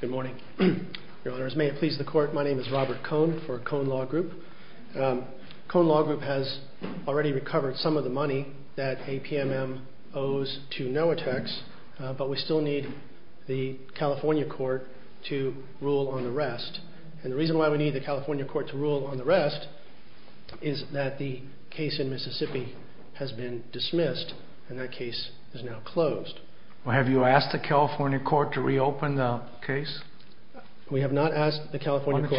Good morning, Your Honor. As may it please the Court, my name is Robert Kohn for Kohn Law Group. Kohn Law Group has already recovered some of the money that APMM owes to NOAA Techs, but we still need the California Court to rule on the rest. And the reason why we is that the case in Mississippi has been dismissed, and that case is now closed. Well, have you asked the California Court to reopen the case? We have not asked the California Court. Why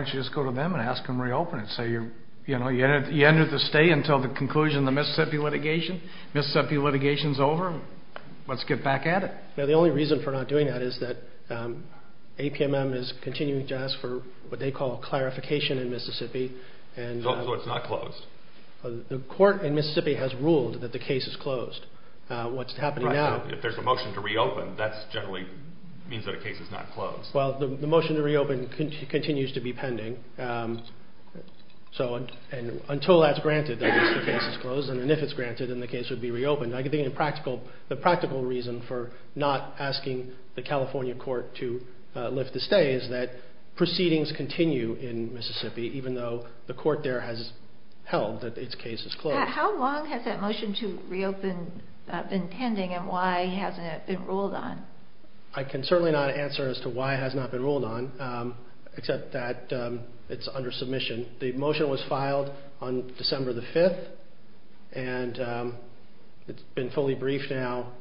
don't you just go to them and ask them to reopen it? So, you know, you enter the state until the conclusion of the Mississippi litigation. Mississippi litigation's over. Let's get back at it. No, the only reason for not doing that is that APMM is continuing to ask for what they call a clarification in Mississippi. So it's not closed? The Court in Mississippi has ruled that the case is closed. What's happening now... Right, so if there's a motion to reopen, that generally means that a case is not closed. Well, the motion to reopen continues to be pending. So until that's granted, the case is closed, and if it's granted, then the case would be reopened. I think the practical reason for not asking the California Court to lift the stay is that proceedings continue in Mississippi, even though the Court there has held that its case is closed. How long has that motion to reopen been pending, and why hasn't it been ruled on? I can certainly not answer as to why it has not been ruled on, except that it's under submission. The motion was filed on December the 5th, and it's been fully briefed now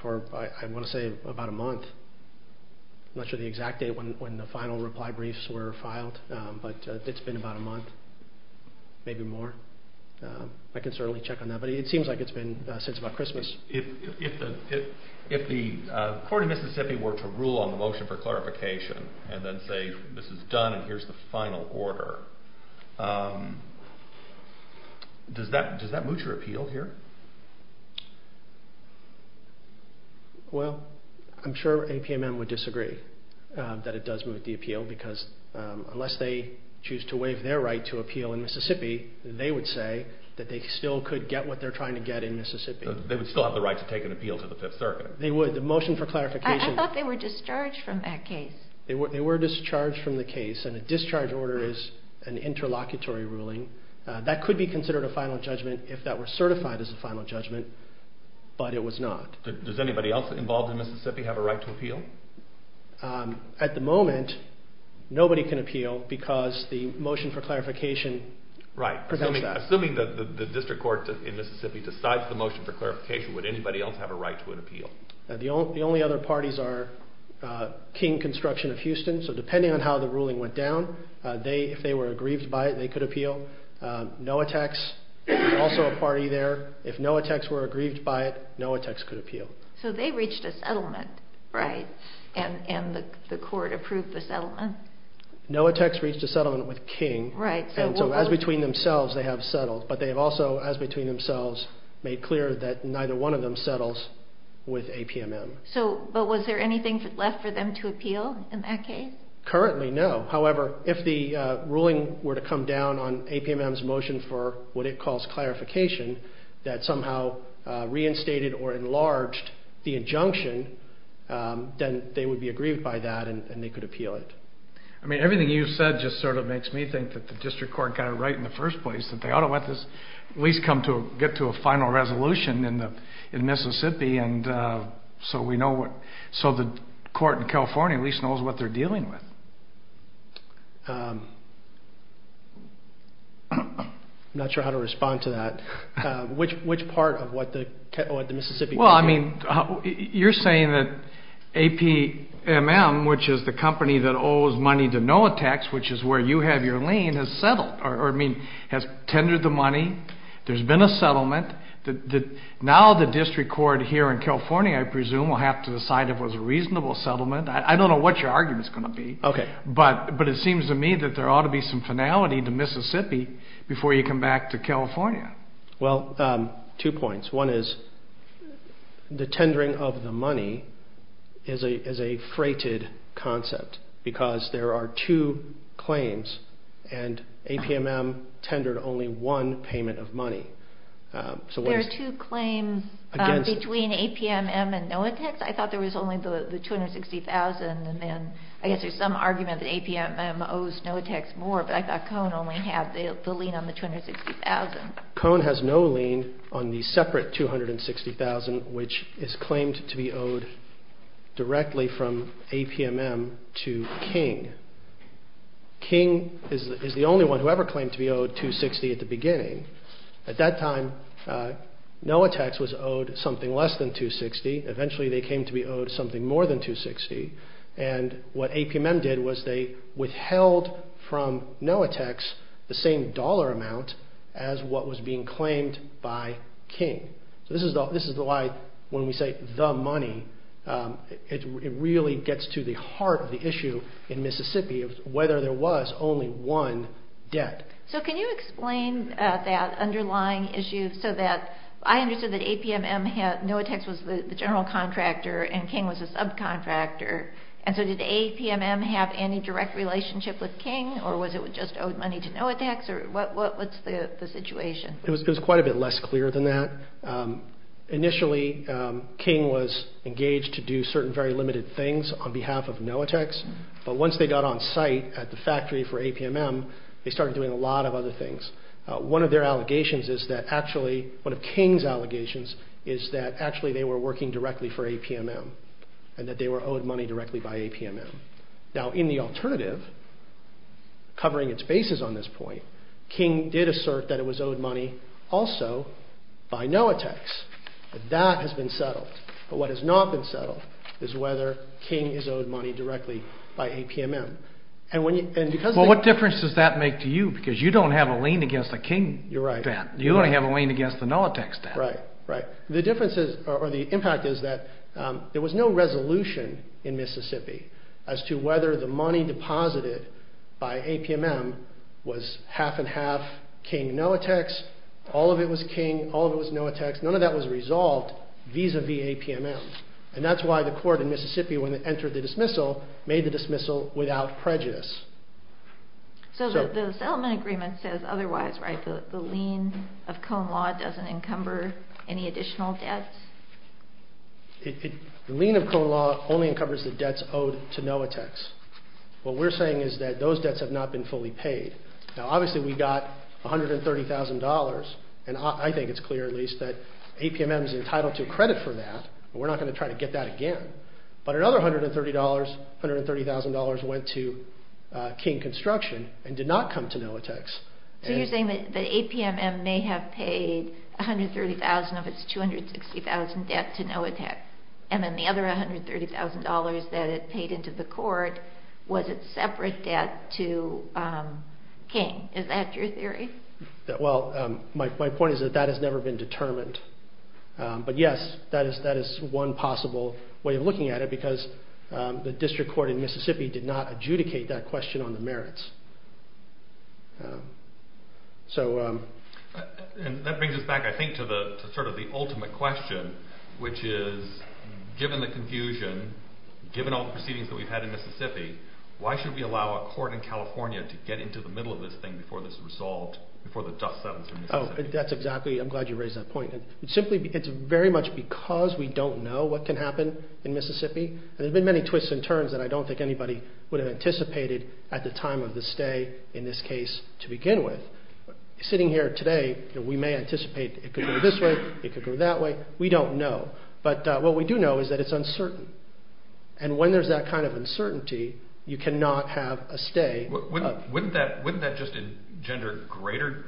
for, I want to say, about a month. I'm not sure the exact date when the final reply briefs were filed, but it's been about a month, maybe more. I can certainly check on that, but it seems like it's been since about Christmas. If the Court in Mississippi were to rule on the motion for clarification, and then say, this is done, and here's the final order, does that moot your appeal here? Well, I'm sure APMM would disagree that it does moot the appeal, because unless they choose to waive their right to appeal in Mississippi, they would say that they still could get what they're trying to get in Mississippi. They would still have the right to take an appeal to the 5th Circuit. They would. The motion for clarification... I thought they were discharged from that case. They were discharged from the case, and a discharge order is an interlocutory ruling. That could be considered a final judgment if that were certified as a final judgment, but it was not. Does anybody else involved in Mississippi have a right to appeal? At the moment, nobody can appeal, because the motion for clarification prevents that. Assuming that the District Court in Mississippi decides the motion for clarification, would anybody else have a right to an appeal? The only other parties are King Construction of Houston, so depending on how the ruling went down, if they were aggrieved by it, they could appeal. Noatex, also a party there, if Noatex were aggrieved by it, Noatex could appeal. So they reached a settlement, right? And the court approved the settlement? Noatex reached a settlement with King, and so as between themselves, they have settled. But they have also, as between themselves, made clear that neither one of them settles with APMM. But was there anything left for them to appeal in that case? Currently, no. However, if the ruling were to come down on APMM's motion for what it calls clarification, that somehow reinstated or enlarged the injunction, then they would be aggrieved by that, and they could appeal it. I mean, everything you've said just sort of makes me think that the District Court got it right in the first place, that they ought to let this at least get to a final resolution in Mississippi, and so the court in California at least knows what they're dealing with. I'm not sure how to respond to that. Which part of what the Mississippi... Well, I mean, you're saying that APMM, which is the company that owes money to Noatex, which is where you have your lien, has settled, or I mean, has tendered the money, there's been a settlement. Now the District Court here in California, I presume, will have to decide if it was a reasonable settlement. I don't know what your argument's going to be, but it seems to me that there ought to be some finality to Mississippi before you come back to California. Well, two points. One is the tendering of the money is a freighted concept, because there are two claims, and APMM tendered only one payment of money. There are two claims between APMM and Noatex? I thought there was only the $260,000, and then I guess there's some argument that APMM owes Noatex more, but I thought Cone only had the lien on the $260,000. Cone has no lien on the separate $260,000, which is claimed to be owed directly from King. King is the only one who ever claimed to be owed $260,000 at the beginning. At that time, Noatex was owed something less than $260,000. Eventually, they came to be owed something more than $260,000, and what APMM did was they withheld from Noatex the same dollar amount as what was being claimed by King. So this is why when we say the money, it really gets to the heart of the issue in Mississippi. Whether there was only one debt. So can you explain that underlying issue, so that I understood that APMM had, Noatex was the general contractor, and King was a subcontractor, and so did APMM have any direct relationship with King, or was it just owed money to Noatex, or what's the situation? It was quite a bit less clear than that. Initially, King was engaged to do certain very limited things on behalf of Noatex, but once they got on site at the factory for APMM, they started doing a lot of other things. One of their allegations is that actually, one of King's allegations is that actually they were working directly for APMM, and that they were owed money directly by APMM. Now in the alternative, covering its bases on this point, King did assert that it was owed money also by Noatex. That has been settled, but what has not been settled is that King is owed money directly by APMM. What difference does that make to you, because you don't have a lien against a King debt, you only have a lien against the Noatex debt. The difference is, or the impact is that there was no resolution in Mississippi as to whether the money deposited by APMM was half and half King-Noatex, all of it was King, all of it was Noatex, none of that was resolved vis-a-vis APMM, and that's why the court in Mississippi when it entered the dismissal, made the dismissal without prejudice. So the settlement agreement says otherwise, right? The lien of Cone Law doesn't encumber any additional debts? The lien of Cone Law only encumbers the debts owed to Noatex. What we're saying is that those debts have not been fully paid. Now obviously we got $130,000, and I think it's clear at least that APMM is entitled to credit for that, but we're not going to try to get that again. But another $130,000 went to King Construction and did not come to Noatex. So you're saying that APMM may have paid $130,000 of its $260,000 debt to Noatex, and then the other $130,000 that it paid into the court was its separate debt to King. Is that your theory? Well, my point is that that has never been determined. But yes, that is one possible way of looking at it, because the district court in Mississippi did not adjudicate that question on the merits. So that brings us back I think to sort of the ultimate question, which is, given the confusion, given all the proceedings that we've had in Mississippi, why should we allow a court in California to get into the middle of this thing before this is resolved, before the dust settles in Mississippi? That's exactly, I'm glad you raised that point. Simply, it's very much because we don't know what can happen in Mississippi. There have been many twists and turns that I don't think anybody would have anticipated at the time of the stay in this case to begin with. Sitting here today, we may anticipate it could go this way, it could go that way, we don't know. But what we do know is that it's uncertain. And when there's that kind of uncertainty, you cannot have a stay. Wouldn't that just engender greater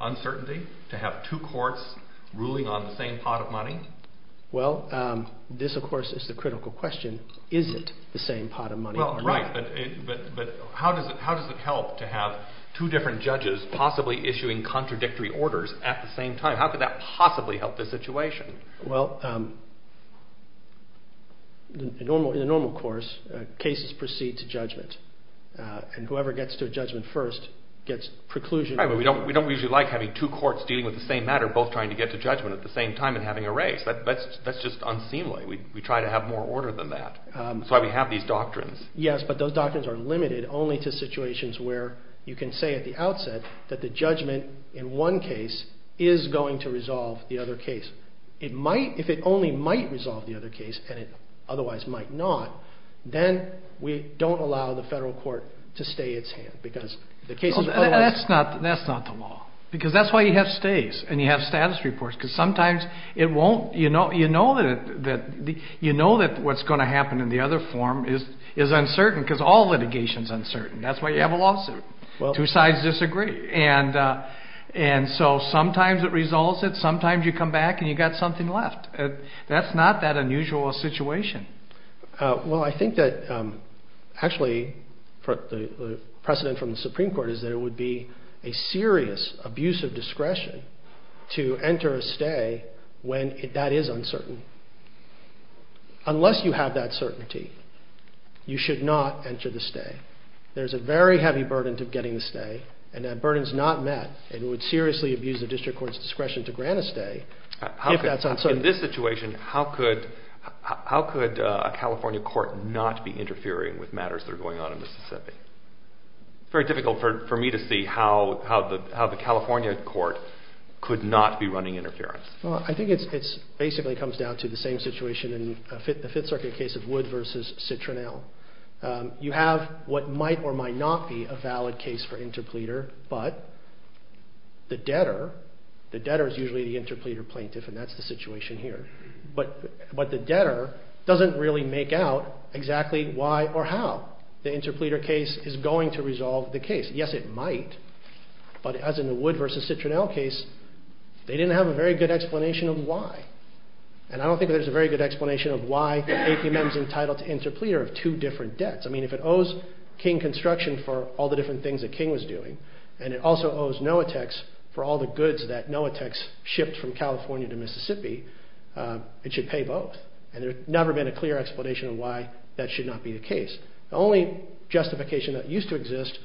uncertainty, to have two courts ruling on the same pot of money? Well, this of course is the critical question. Is it the same pot of money? Well, right, but how does it help to have two different judges possibly issuing contradictory orders at the same time? How could that possibly help the situation? Well, in a normal course, cases proceed to judgment. And whoever gets to a judgment first gets preclusion. Right, but we don't usually like having two courts dealing with the same matter, both trying to get to judgment at the same time and having a race. That's just unseemly. We try to have more order than that. That's why we have these doctrines. Yes, but those doctrines are limited only to situations where you can say at the outset that the judgment in one case is going to resolve the other case. If it only might resolve the other case, and it otherwise might not, then we don't allow the federal court to stay its hand because the case is otherwise... That's not the law, because that's why you have stays and you have status reports, because sometimes you know that what's going to happen in the other form is uncertain, because all the cases are going to be the same. And so sometimes it resolves it, sometimes you come back and you've got something left. That's not that unusual a situation. Well I think that actually the precedent from the Supreme Court is that it would be a serious abuse of discretion to enter a stay when that is uncertain. Unless you have that certainty, you should not enter the stay. There's a very heavy burden to getting the stay, and that burden is not met. It would seriously abuse the district court's discretion to grant a stay if that's uncertain. In this situation, how could a California court not be interfering with matters that are going on in Mississippi? It's very difficult for me to see how the California court could not be running interference. I think it basically comes down to the same situation in the Fifth Circuit case of Wood v. Citronelle. You have what might or might not be a valid case for interpleader, but the debtor, the debtor is usually the interpleader plaintiff and that's the situation here, but the debtor doesn't really make out exactly why or how the interpleader case is going to resolve the case. Yes it might, but as in the Wood v. Citronelle case, they didn't have a very good explanation of why. And I don't think there's a very good explanation of why APM is entitled to interpleader of two different debts. I mean, if it owes King Construction for all the different things that King was doing, and it also owes NOATEX for all the goods that NOATEX shipped from California to Mississippi, it should pay both. And there's never been a clear explanation of why that should not be the case. The only justification that used to exist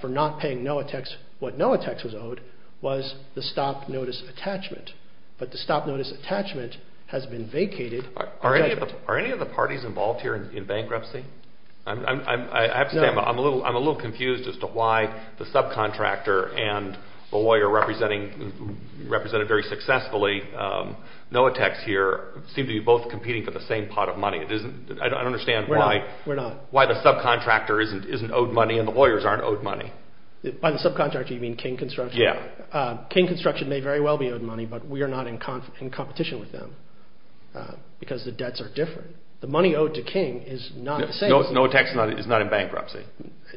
for not paying NOATEX what NOATEX was owed was the stop notice attachment, but the stop notice attachment has been vacated. Are any of the parties involved here in bankruptcy? I'm a little confused as to why the subcontractor and the lawyer represented very successfully, NOATEX here, seem to be both competing for the same pot of money. I don't understand why the subcontractor isn't owed money and the lawyers aren't owed money. By the subcontractor, you mean King Construction. King Construction may very well be owed money, but we are not in competition with them because the debts are different. The money owed to King is not the same. NOATEX is not in bankruptcy.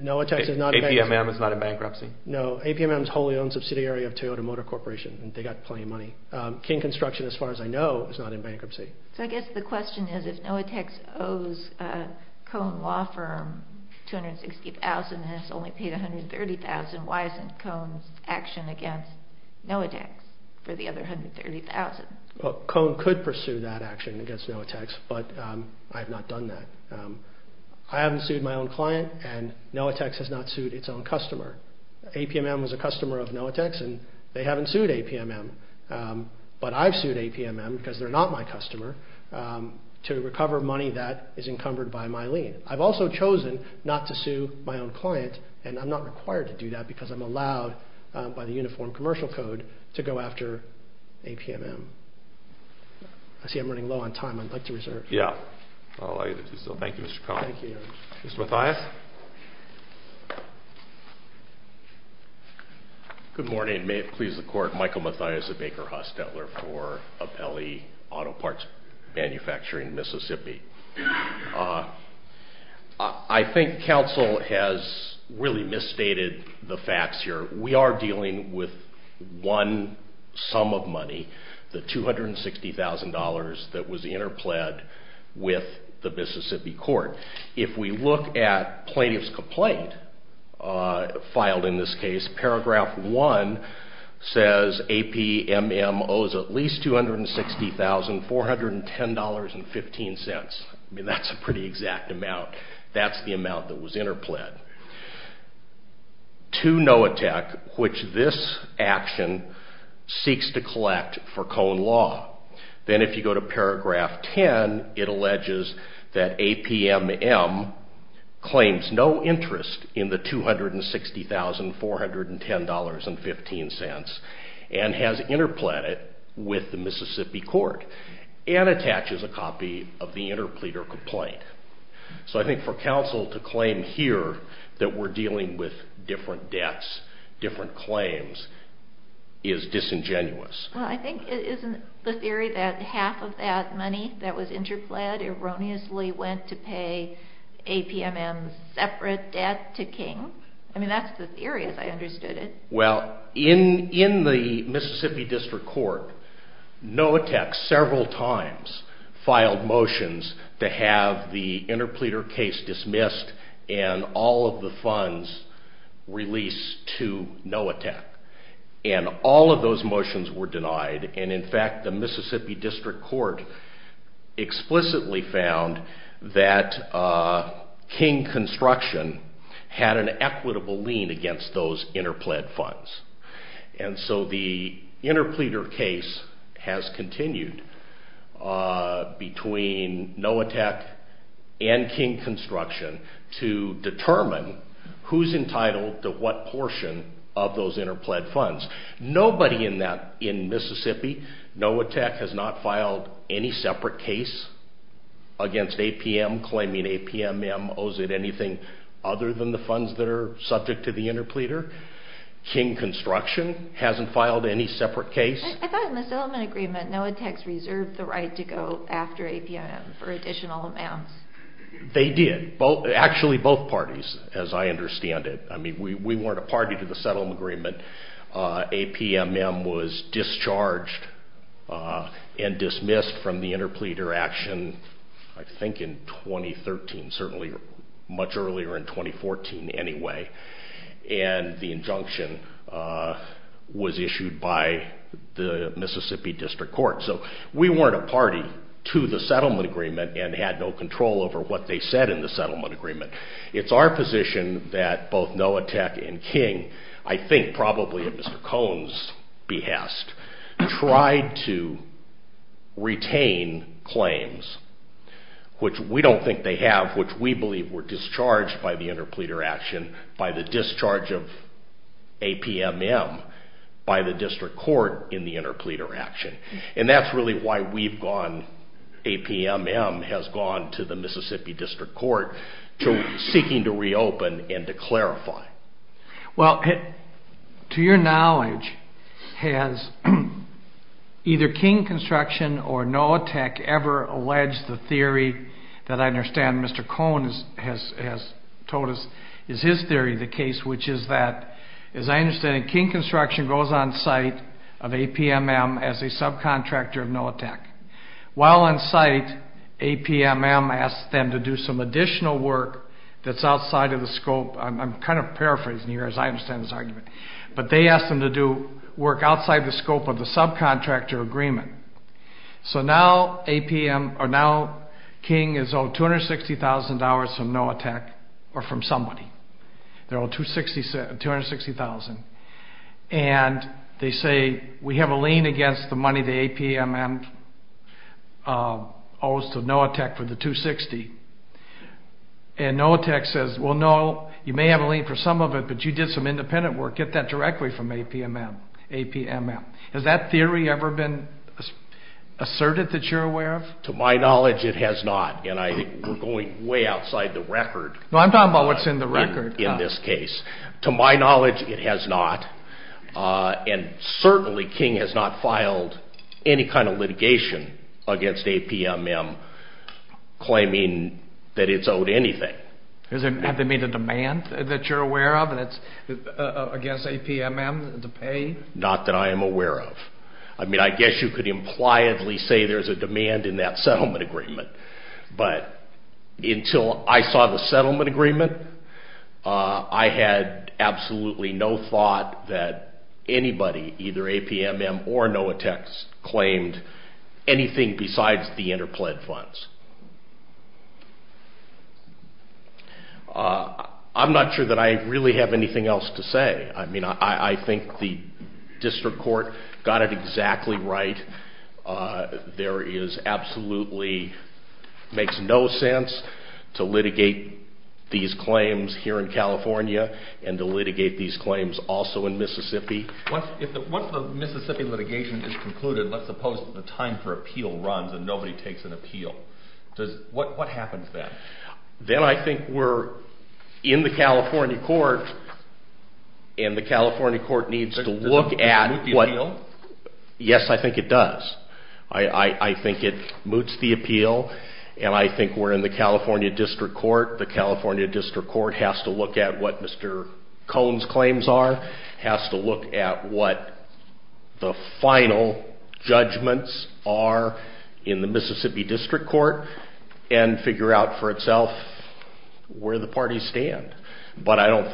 APMM is not in bankruptcy. No, APMM is wholly owned subsidiary of Toyota Motor Corporation and they got plenty of money. King Construction, as far as I know, is not in bankruptcy. So I guess the question is, if NOATEX owes Cone Law Firm $260,000 and it's only paid $130,000, why isn't Cone's action against NOATEX for the other $130,000? Cone could pursue that action against NOATEX, but I have not done that. I haven't sued my own client and NOATEX has not sued its own customer. APMM was a customer of NOATEX and they haven't sued APMM, but I've sued APMM because they're not my customer to recover money that is encumbered by my lien. I've also chosen not to sue my own client and I'm not required to do that because I'm allowed by the Uniform Commercial Code to go after APMM. I see I'm running low on time. I'd like to reserve. Yeah, I'll allow you to do so. Thank you, Mr. Cone. Thank you. Mr. Mathias? Good morning. May it please the Court, Michael Mathias, a Baker-Haas dealer for Apelli Auto Parts Manufacturing, Mississippi. I think counsel has really misstated the facts here. We are dealing with one sum of money, the $260,000 that was interpled with the Mississippi court. If we look at plaintiff's complaint filed in this case, paragraph one says APMM owes at least $260,410.15. I mean, that's a pretty exact amount. That's the amount that was interpled. To NOATEC, which this action seeks to collect for Cone Law, then if you go to paragraph 10, it alleges that APMM claims no interest in the $260,410.15 and has interpled it with the Mississippi court and attaches a copy of the interpleader complaint. So I think for counsel to claim here that we're dealing with different debts, different claims, is disingenuous. I think it isn't the theory that half of that money that was interpled erroneously went to pay APMM's separate debt to King. I mean, that's the theory as I understood it. Well, in the Mississippi District Court, NOATEC several times filed motions to have the interpleader case dismissed and all of the funds released to NOATEC. And all of those motions were denied. And in fact, the Mississippi District Court explicitly found that King Construction had an equitable lien against those interpled funds. And so the interpleader case has continued between NOATEC and King Construction to determine who's entitled to what portion of those interpled funds. Nobody in Mississippi, NOATEC has not filed any separate case against APM, claiming APMM owes it anything other than the funds that are subject to the interpleader. King Construction hasn't filed any separate case. I thought in the Silliman agreement, NOATEC's reserved the right to go after APMM for additional amounts. They did. Actually, both parties, as I understand it. I mean, we weren't a party to the Silliman agreement. APMM was discharged and dismissed from the interpleader action, I think in 2013, certainly much earlier in 2014 anyway. And the injunction was issued by the Mississippi District Court. So we weren't a party to the Settlement Agreement and had no control over what they said in the Settlement Agreement. It's our position that both NOATEC and King, I think probably at Mr. Cohen's behest, tried to retain claims, which we don't think they have, which we believe were discharged by the interpleader action, by the discharge of APMM by the District Court in the interpleader action. And that's really why we've gone, APMM has gone to the Mississippi District Court to seeking to reopen and to clarify. Well, to your knowledge, has either King Construction or NOATEC ever alleged the theory that I understand Mr. Cohen has told us is his theory of the case, which is that, as I understand it, King Construction goes on site of APMM as a subcontractor of NOATEC. While on site, APMM asks them to do some additional work that's outside of the scope, I'm kind of paraphrasing here as I understand this argument, but they ask them to do work outside the scope of the subcontractor agreement. So now King is owed $260,000 from NOATEC, or from somebody. They're owed $260,000. And they say, we have a lien against the money the APMM owes to NOATEC for the $260,000. And NOATEC says, well, no, you may have a lien for some of it, but you did some independent work. Get that directly from APMM. Has that theory ever been asserted that you're aware of? To my knowledge, it has not. And I think we're going way outside the record. No, I'm talking about what's in the record. In this case. To my knowledge, it has not. And certainly, King has not filed any kind of litigation against APMM claiming that it's owed anything. Has there been a demand that you're aware of against APMM to pay? Not that I am aware of. I mean, I guess you could impliedly say there's a demand in that settlement agreement. But until I saw the settlement agreement, I had absolutely no thought that anybody, either APMM or NOATEC, claimed anything besides the interpled funds. I'm not sure that I really have anything else to say. I mean, I think the district court got it exactly right. There is absolutely, makes no sense to litigate these claims here in California and to litigate these claims also in Mississippi. Once the Mississippi litigation is concluded, let's suppose that the time for appeal runs and nobody takes an appeal. What happens then? Then I think we're in the California court, and the California court needs to look at Does it moot the appeal? Yes, I think it does. I think it moots the appeal, and I think we're in the California district court. The California district court has to look at what Mr. Cone's claims are, has to look at what the final judgments are in the Mississippi district court, and figure out for itself where the parties stand. But I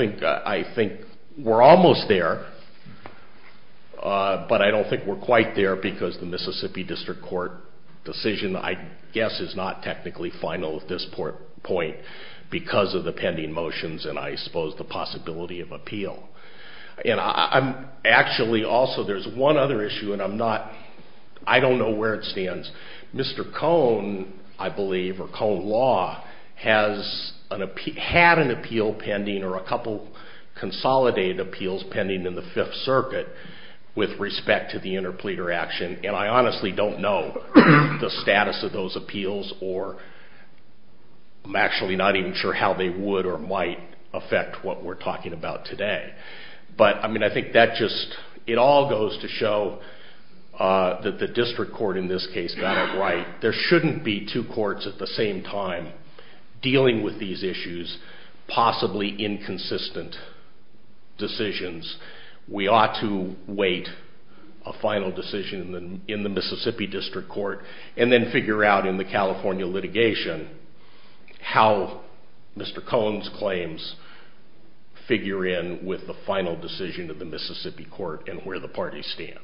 think we're almost there, but I don't think we're quite there because the Mississippi district court decision, I guess, is not technically final at this point because of the pending motions and, I suppose, the possibility of appeal. And actually, also, there's one other issue, and I don't know where it stands. Mr. Cone, I believe, or Cone Law, had an appeal pending or a couple consolidated appeals pending in the Fifth Circuit with respect to the interpleader action, and I honestly don't know the status of those appeals, or I'm actually not even sure how they would or might affect what we're talking about today. But, I mean, I think that just, it all goes to show that the district court, in this case, got it right. There shouldn't be two courts at the same time dealing with these issues, possibly inconsistent decisions. We ought to wait a final decision in the Mississippi district court and then figure out in the California litigation how Mr. Cone's claims figure in with the final decision of the Mississippi court and where the parties stand.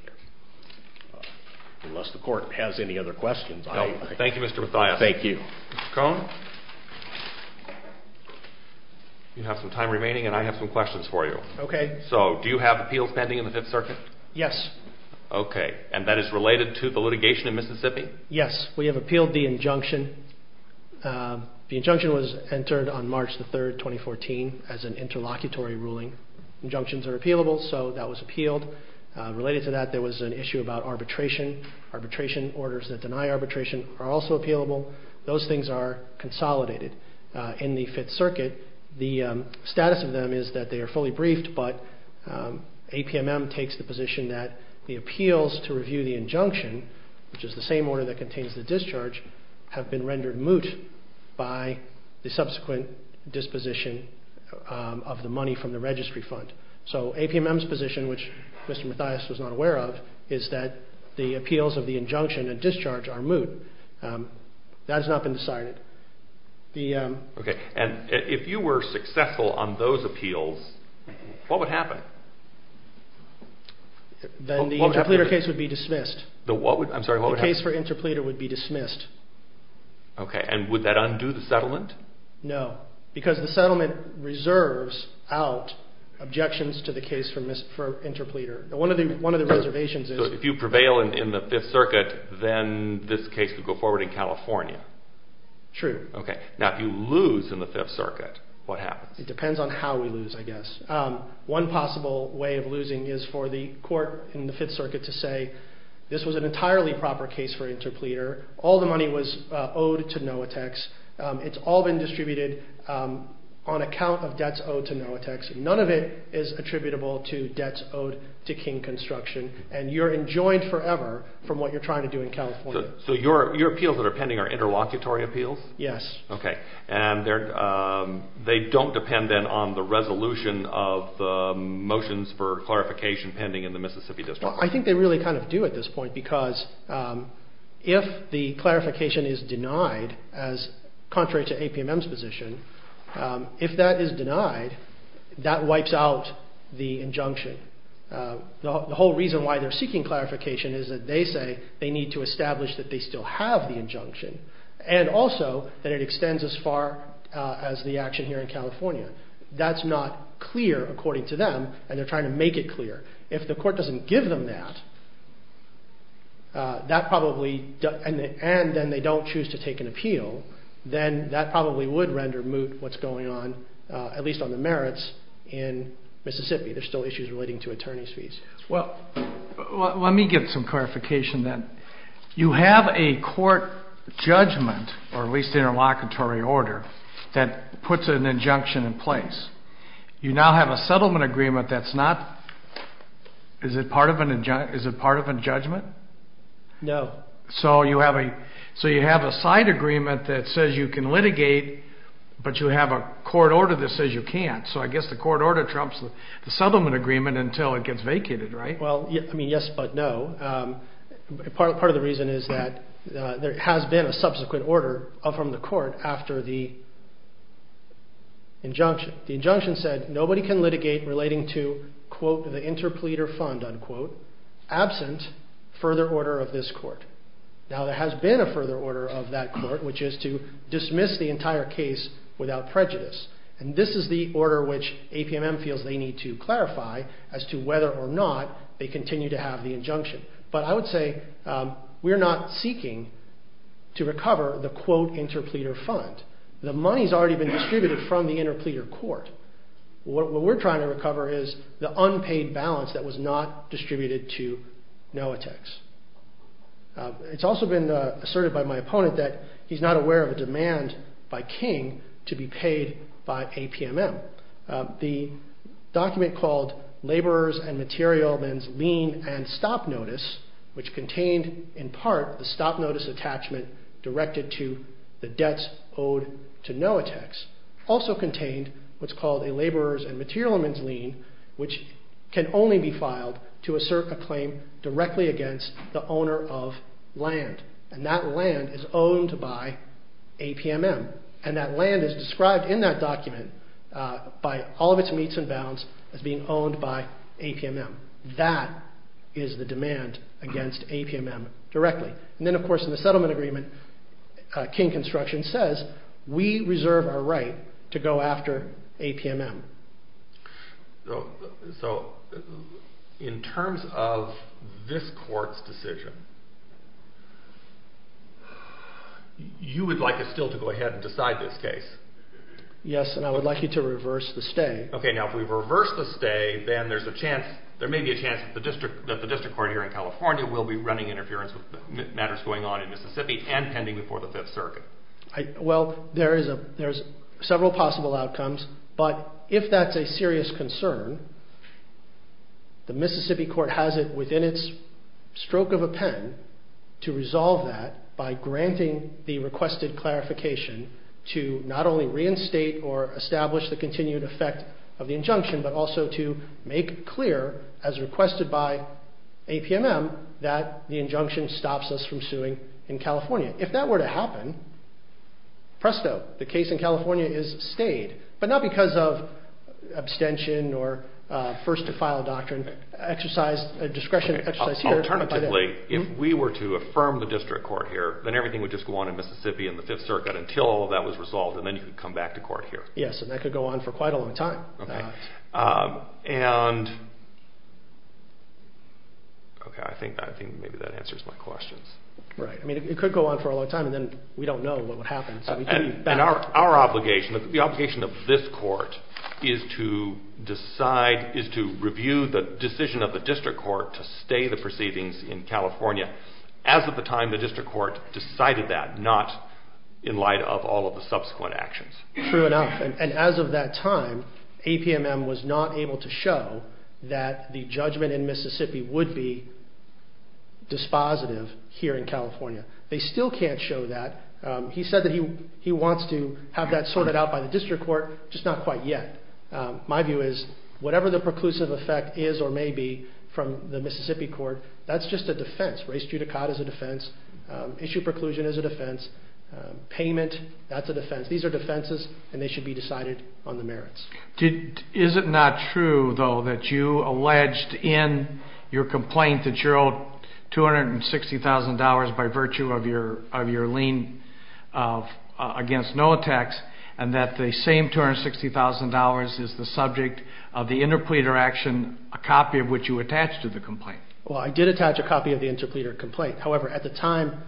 Unless the court has any other questions, I... No. Thank you, Mr. Mathias. Thank you. Mr. Cone, you have some time remaining and I have some questions for you. Okay. So, do you have appeals pending in the Fifth Circuit? Yes. Okay. And that is related to the litigation in Mississippi? Yes. We have appealed the injunction. The injunction was entered on March the 3rd, 2014, as an interlocutory ruling. Injunctions are appealable, so that was appealed. Related to that, there was an issue about arbitration. Arbitration orders that deny arbitration are also appealable. Those things are consolidated. In the Fifth Circuit, the status of them is that they are fully briefed, but APMM takes the position that the appeals to review the injunction, which is the same order that contains the discharge, have been rendered moot by the of the money from the registry fund. So, APMM's position, which Mr. Mathias was not aware of, is that the appeals of the injunction and discharge are moot. That has not been decided. Okay. And if you were successful on those appeals, what would happen? Then the interpleader case would be dismissed. I'm sorry, what would happen? The case for interpleader would be dismissed. Okay. And would that undo the settlement? No, because the settlement reserves out objections to the case for interpleader. If you prevail in the Fifth Circuit, then this case would go forward in California. True. Okay. Now, if you lose in the Fifth Circuit, what happens? It depends on how we lose, I guess. One possible way of losing is for the court in the Fifth Circuit to say, this was an entirely proper case for interpleader. All the money was owed to Noatex. It's all been distributed on account of debts owed to Noatex. None of it is attributable to debts owed to King Construction. And you're enjoined forever from what you're trying to do in California. So your appeals that are pending are interlocutory appeals? Yes. Okay. And they don't depend then on the resolution of the motions for clarification pending in the Mississippi District? I think they really kind of do at this point, because if the clarification is denied, as contrary to APMM's position, if that is denied, that wipes out the injunction. The whole reason why they're seeking clarification is that they say they need to establish that they still have the injunction, and also that it extends as far as the action here in California. That's not clear, according to them, and they're trying to make it clear. If the court doesn't give them that, and then they don't choose to take an appeal, then that probably would render moot what's going on, at least on the merits, in Mississippi. There's still issues relating to attorney's fees. Well, let me get some clarification then. You have a court judgment, or at least interlocutory order, that puts an injunction in place. You now have a settlement agreement that's not... Is it part of a judgment? No. So you have a side agreement that says you can litigate, but you have a court order that says you can't. So I guess the court order trumps the settlement agreement until it gets vacated, right? Well, I mean, yes, but no. Part of the reason is that there has been a subsequent order from the court after the injunction. The injunction said nobody can litigate relating to, quote, the interpleader fund, unquote, absent further order of this court. Now, there has been a further order of that court, which is to dismiss the entire case without prejudice. And this is the order which APMM feels they need to clarify as to whether or not they continue to have the injunction. But I would say we're not seeking to recover the, quote, interpleader fund. The money's already been distributed from the interpleader court. What we're trying to recover is the unpaid balance that was not distributed to NOATX. It's also been asserted by my opponent that he's not aware of a demand by King to be paid by APMM. The document called Laborers and Material Men's Lien and Stop Notice, which contained, in part, the stop notice attachment directed to the debts owed to NOATX, also contained what's called a Laborers and Material Men's Lien, which can only be filed to assert a claim directly against the owner of land. And that land is owned by APMM. And that land is described in that document by all of its meets and bounds as being owned by APMM. That is the demand against APMM directly. And then, of course, in the settlement agreement, King Construction says, we reserve our right to go after APMM. So in terms of this court's decision, you would like us still to go ahead and decide this case? Yes, and I would like you to reverse the stay. Okay, now, if we reverse the stay, then there's a chance, there may be a chance that the district court here in California will be running interference with the matters going on in Mississippi and pending before the Fifth Circuit. Well, there's several possible outcomes, but if that's a serious concern, the Mississippi court has it within its stroke of a pen to resolve that by granting the requested clarification to not only reinstate or establish the continued effect of the injunction, but also to make clear, as requested by APMM, that the injunction stops us from suing in California. If that were to happen, presto, the case in California is stayed, but not because of abstention or first-to-file doctrine. Exercise discretion, exercise here. Alternatively, if we were to affirm the district court here, then everything would just go on in Mississippi and the Fifth Circuit until all of that was resolved, and then you could come back to court here. Yes, and that could go on for quite a long time. And, okay, I think maybe that answers my questions. Right, I mean, it could go on for a long time, and then we don't know what would happen. And our obligation, the obligation of this court is to decide, is to review the decision of the district court to stay the proceedings in California as of the time the district court decided that, not in light of all of the subsequent actions. True enough, and as of that time, APMM was not able to show that the judgment in Mississippi would be dispositive here in California. They still can't show that. He said that he wants to have that sorted out by the district court, just not quite yet. My view is, whatever the preclusive effect is or may be from the Mississippi court, that's just a defense. Race judicata is a defense. Issue preclusion is a defense. Payment, that's a defense. These are defenses, and they should be decided on the merits. Is it not true, though, that you alleged in your complaint that you're owed $260,000 by virtue of your lien against no attacks, and that the same $260,000 is the subject of the interpleader action, a copy of which you attached to the complaint? Well, I did attach a copy of the interpleader complaint. However, at the time,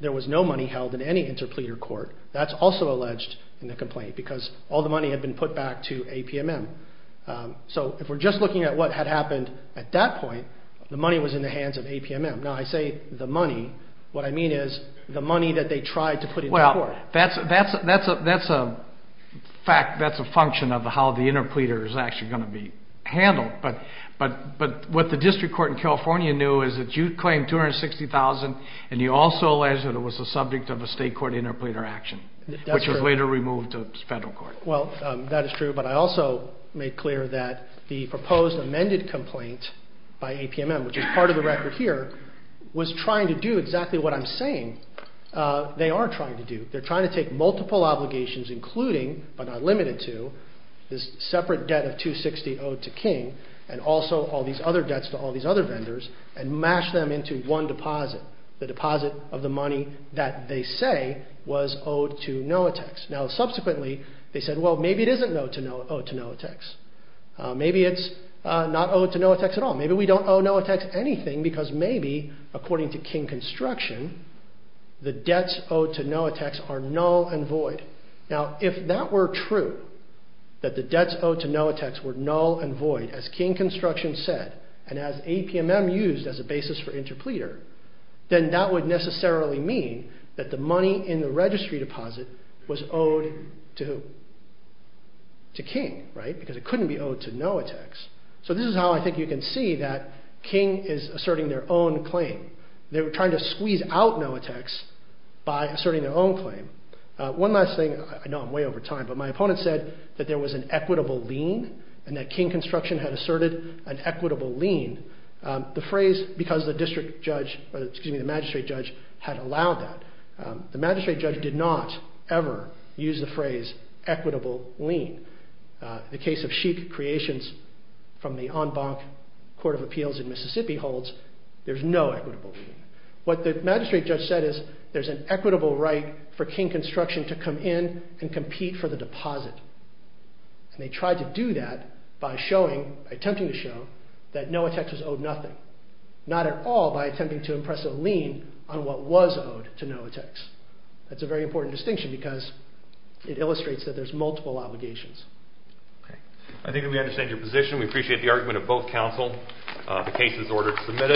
there was no money held in any interpleader court. That's also alleged in the complaint because all the money had been put back to APMM. So if we're just looking at what had happened at that point, the money was in the hands of APMM. Now, I say the money. What I mean is the money that they tried to put in the court. That's a fact. That's a function of how the interpleader is actually going to be handled. But what the district court in California knew is that you claimed $260,000, and you also alleged that it was the subject of a state court interpleader action, which was later removed to federal court. Well, that is true. But I also made clear that the proposed amended complaint by APMM, which is part of the record here, was trying to do exactly what I'm saying they are trying to do. They're trying to take multiple obligations, including, but not limited to, this separate debt of $260,000 owed to King, and also all these other debts to all these other vendors, and mash them into one deposit. The deposit of the money that they say was owed to NOATX. Now, subsequently, they said, well, maybe it isn't owed to NOATX. Maybe it's not owed to NOATX at all. Maybe we don't owe NOATX anything because maybe, according to King Construction, the debts owed to NOATX are null and void. Now, if that were true, that the debts owed to NOATX were null and void, as King Construction said, and as APMM used as a basis for interpleader, then that would necessarily mean that the money in the registry deposit was owed to who? To King, right? Because it couldn't be owed to NOATX. So this is how I think you can see that King is asserting their own claim. They were trying to squeeze out NOATX by asserting their own claim. One last thing. I know I'm way over time, but my opponent said that there was an equitable lien, and that King Construction had asserted an equitable lien. The phrase, because the district judge, or excuse me, the magistrate judge had allowed that. The magistrate judge did not ever use the phrase equitable lien. The case of Sheik Creations from the En Bac Court of Appeals in Mississippi holds, there's no equitable lien. What the magistrate judge said is, there's an equitable right for King Construction to come in and compete for the deposit. And they tried to do that by showing, by attempting to show that NOATX was owed nothing. Not at all by attempting to impress a lien on what was owed to NOATX. That's a very important distinction because it illustrates that there's multiple obligations. Okay. I think that we understand your position. We appreciate the argument of both counsel. The case is ordered to be submitted.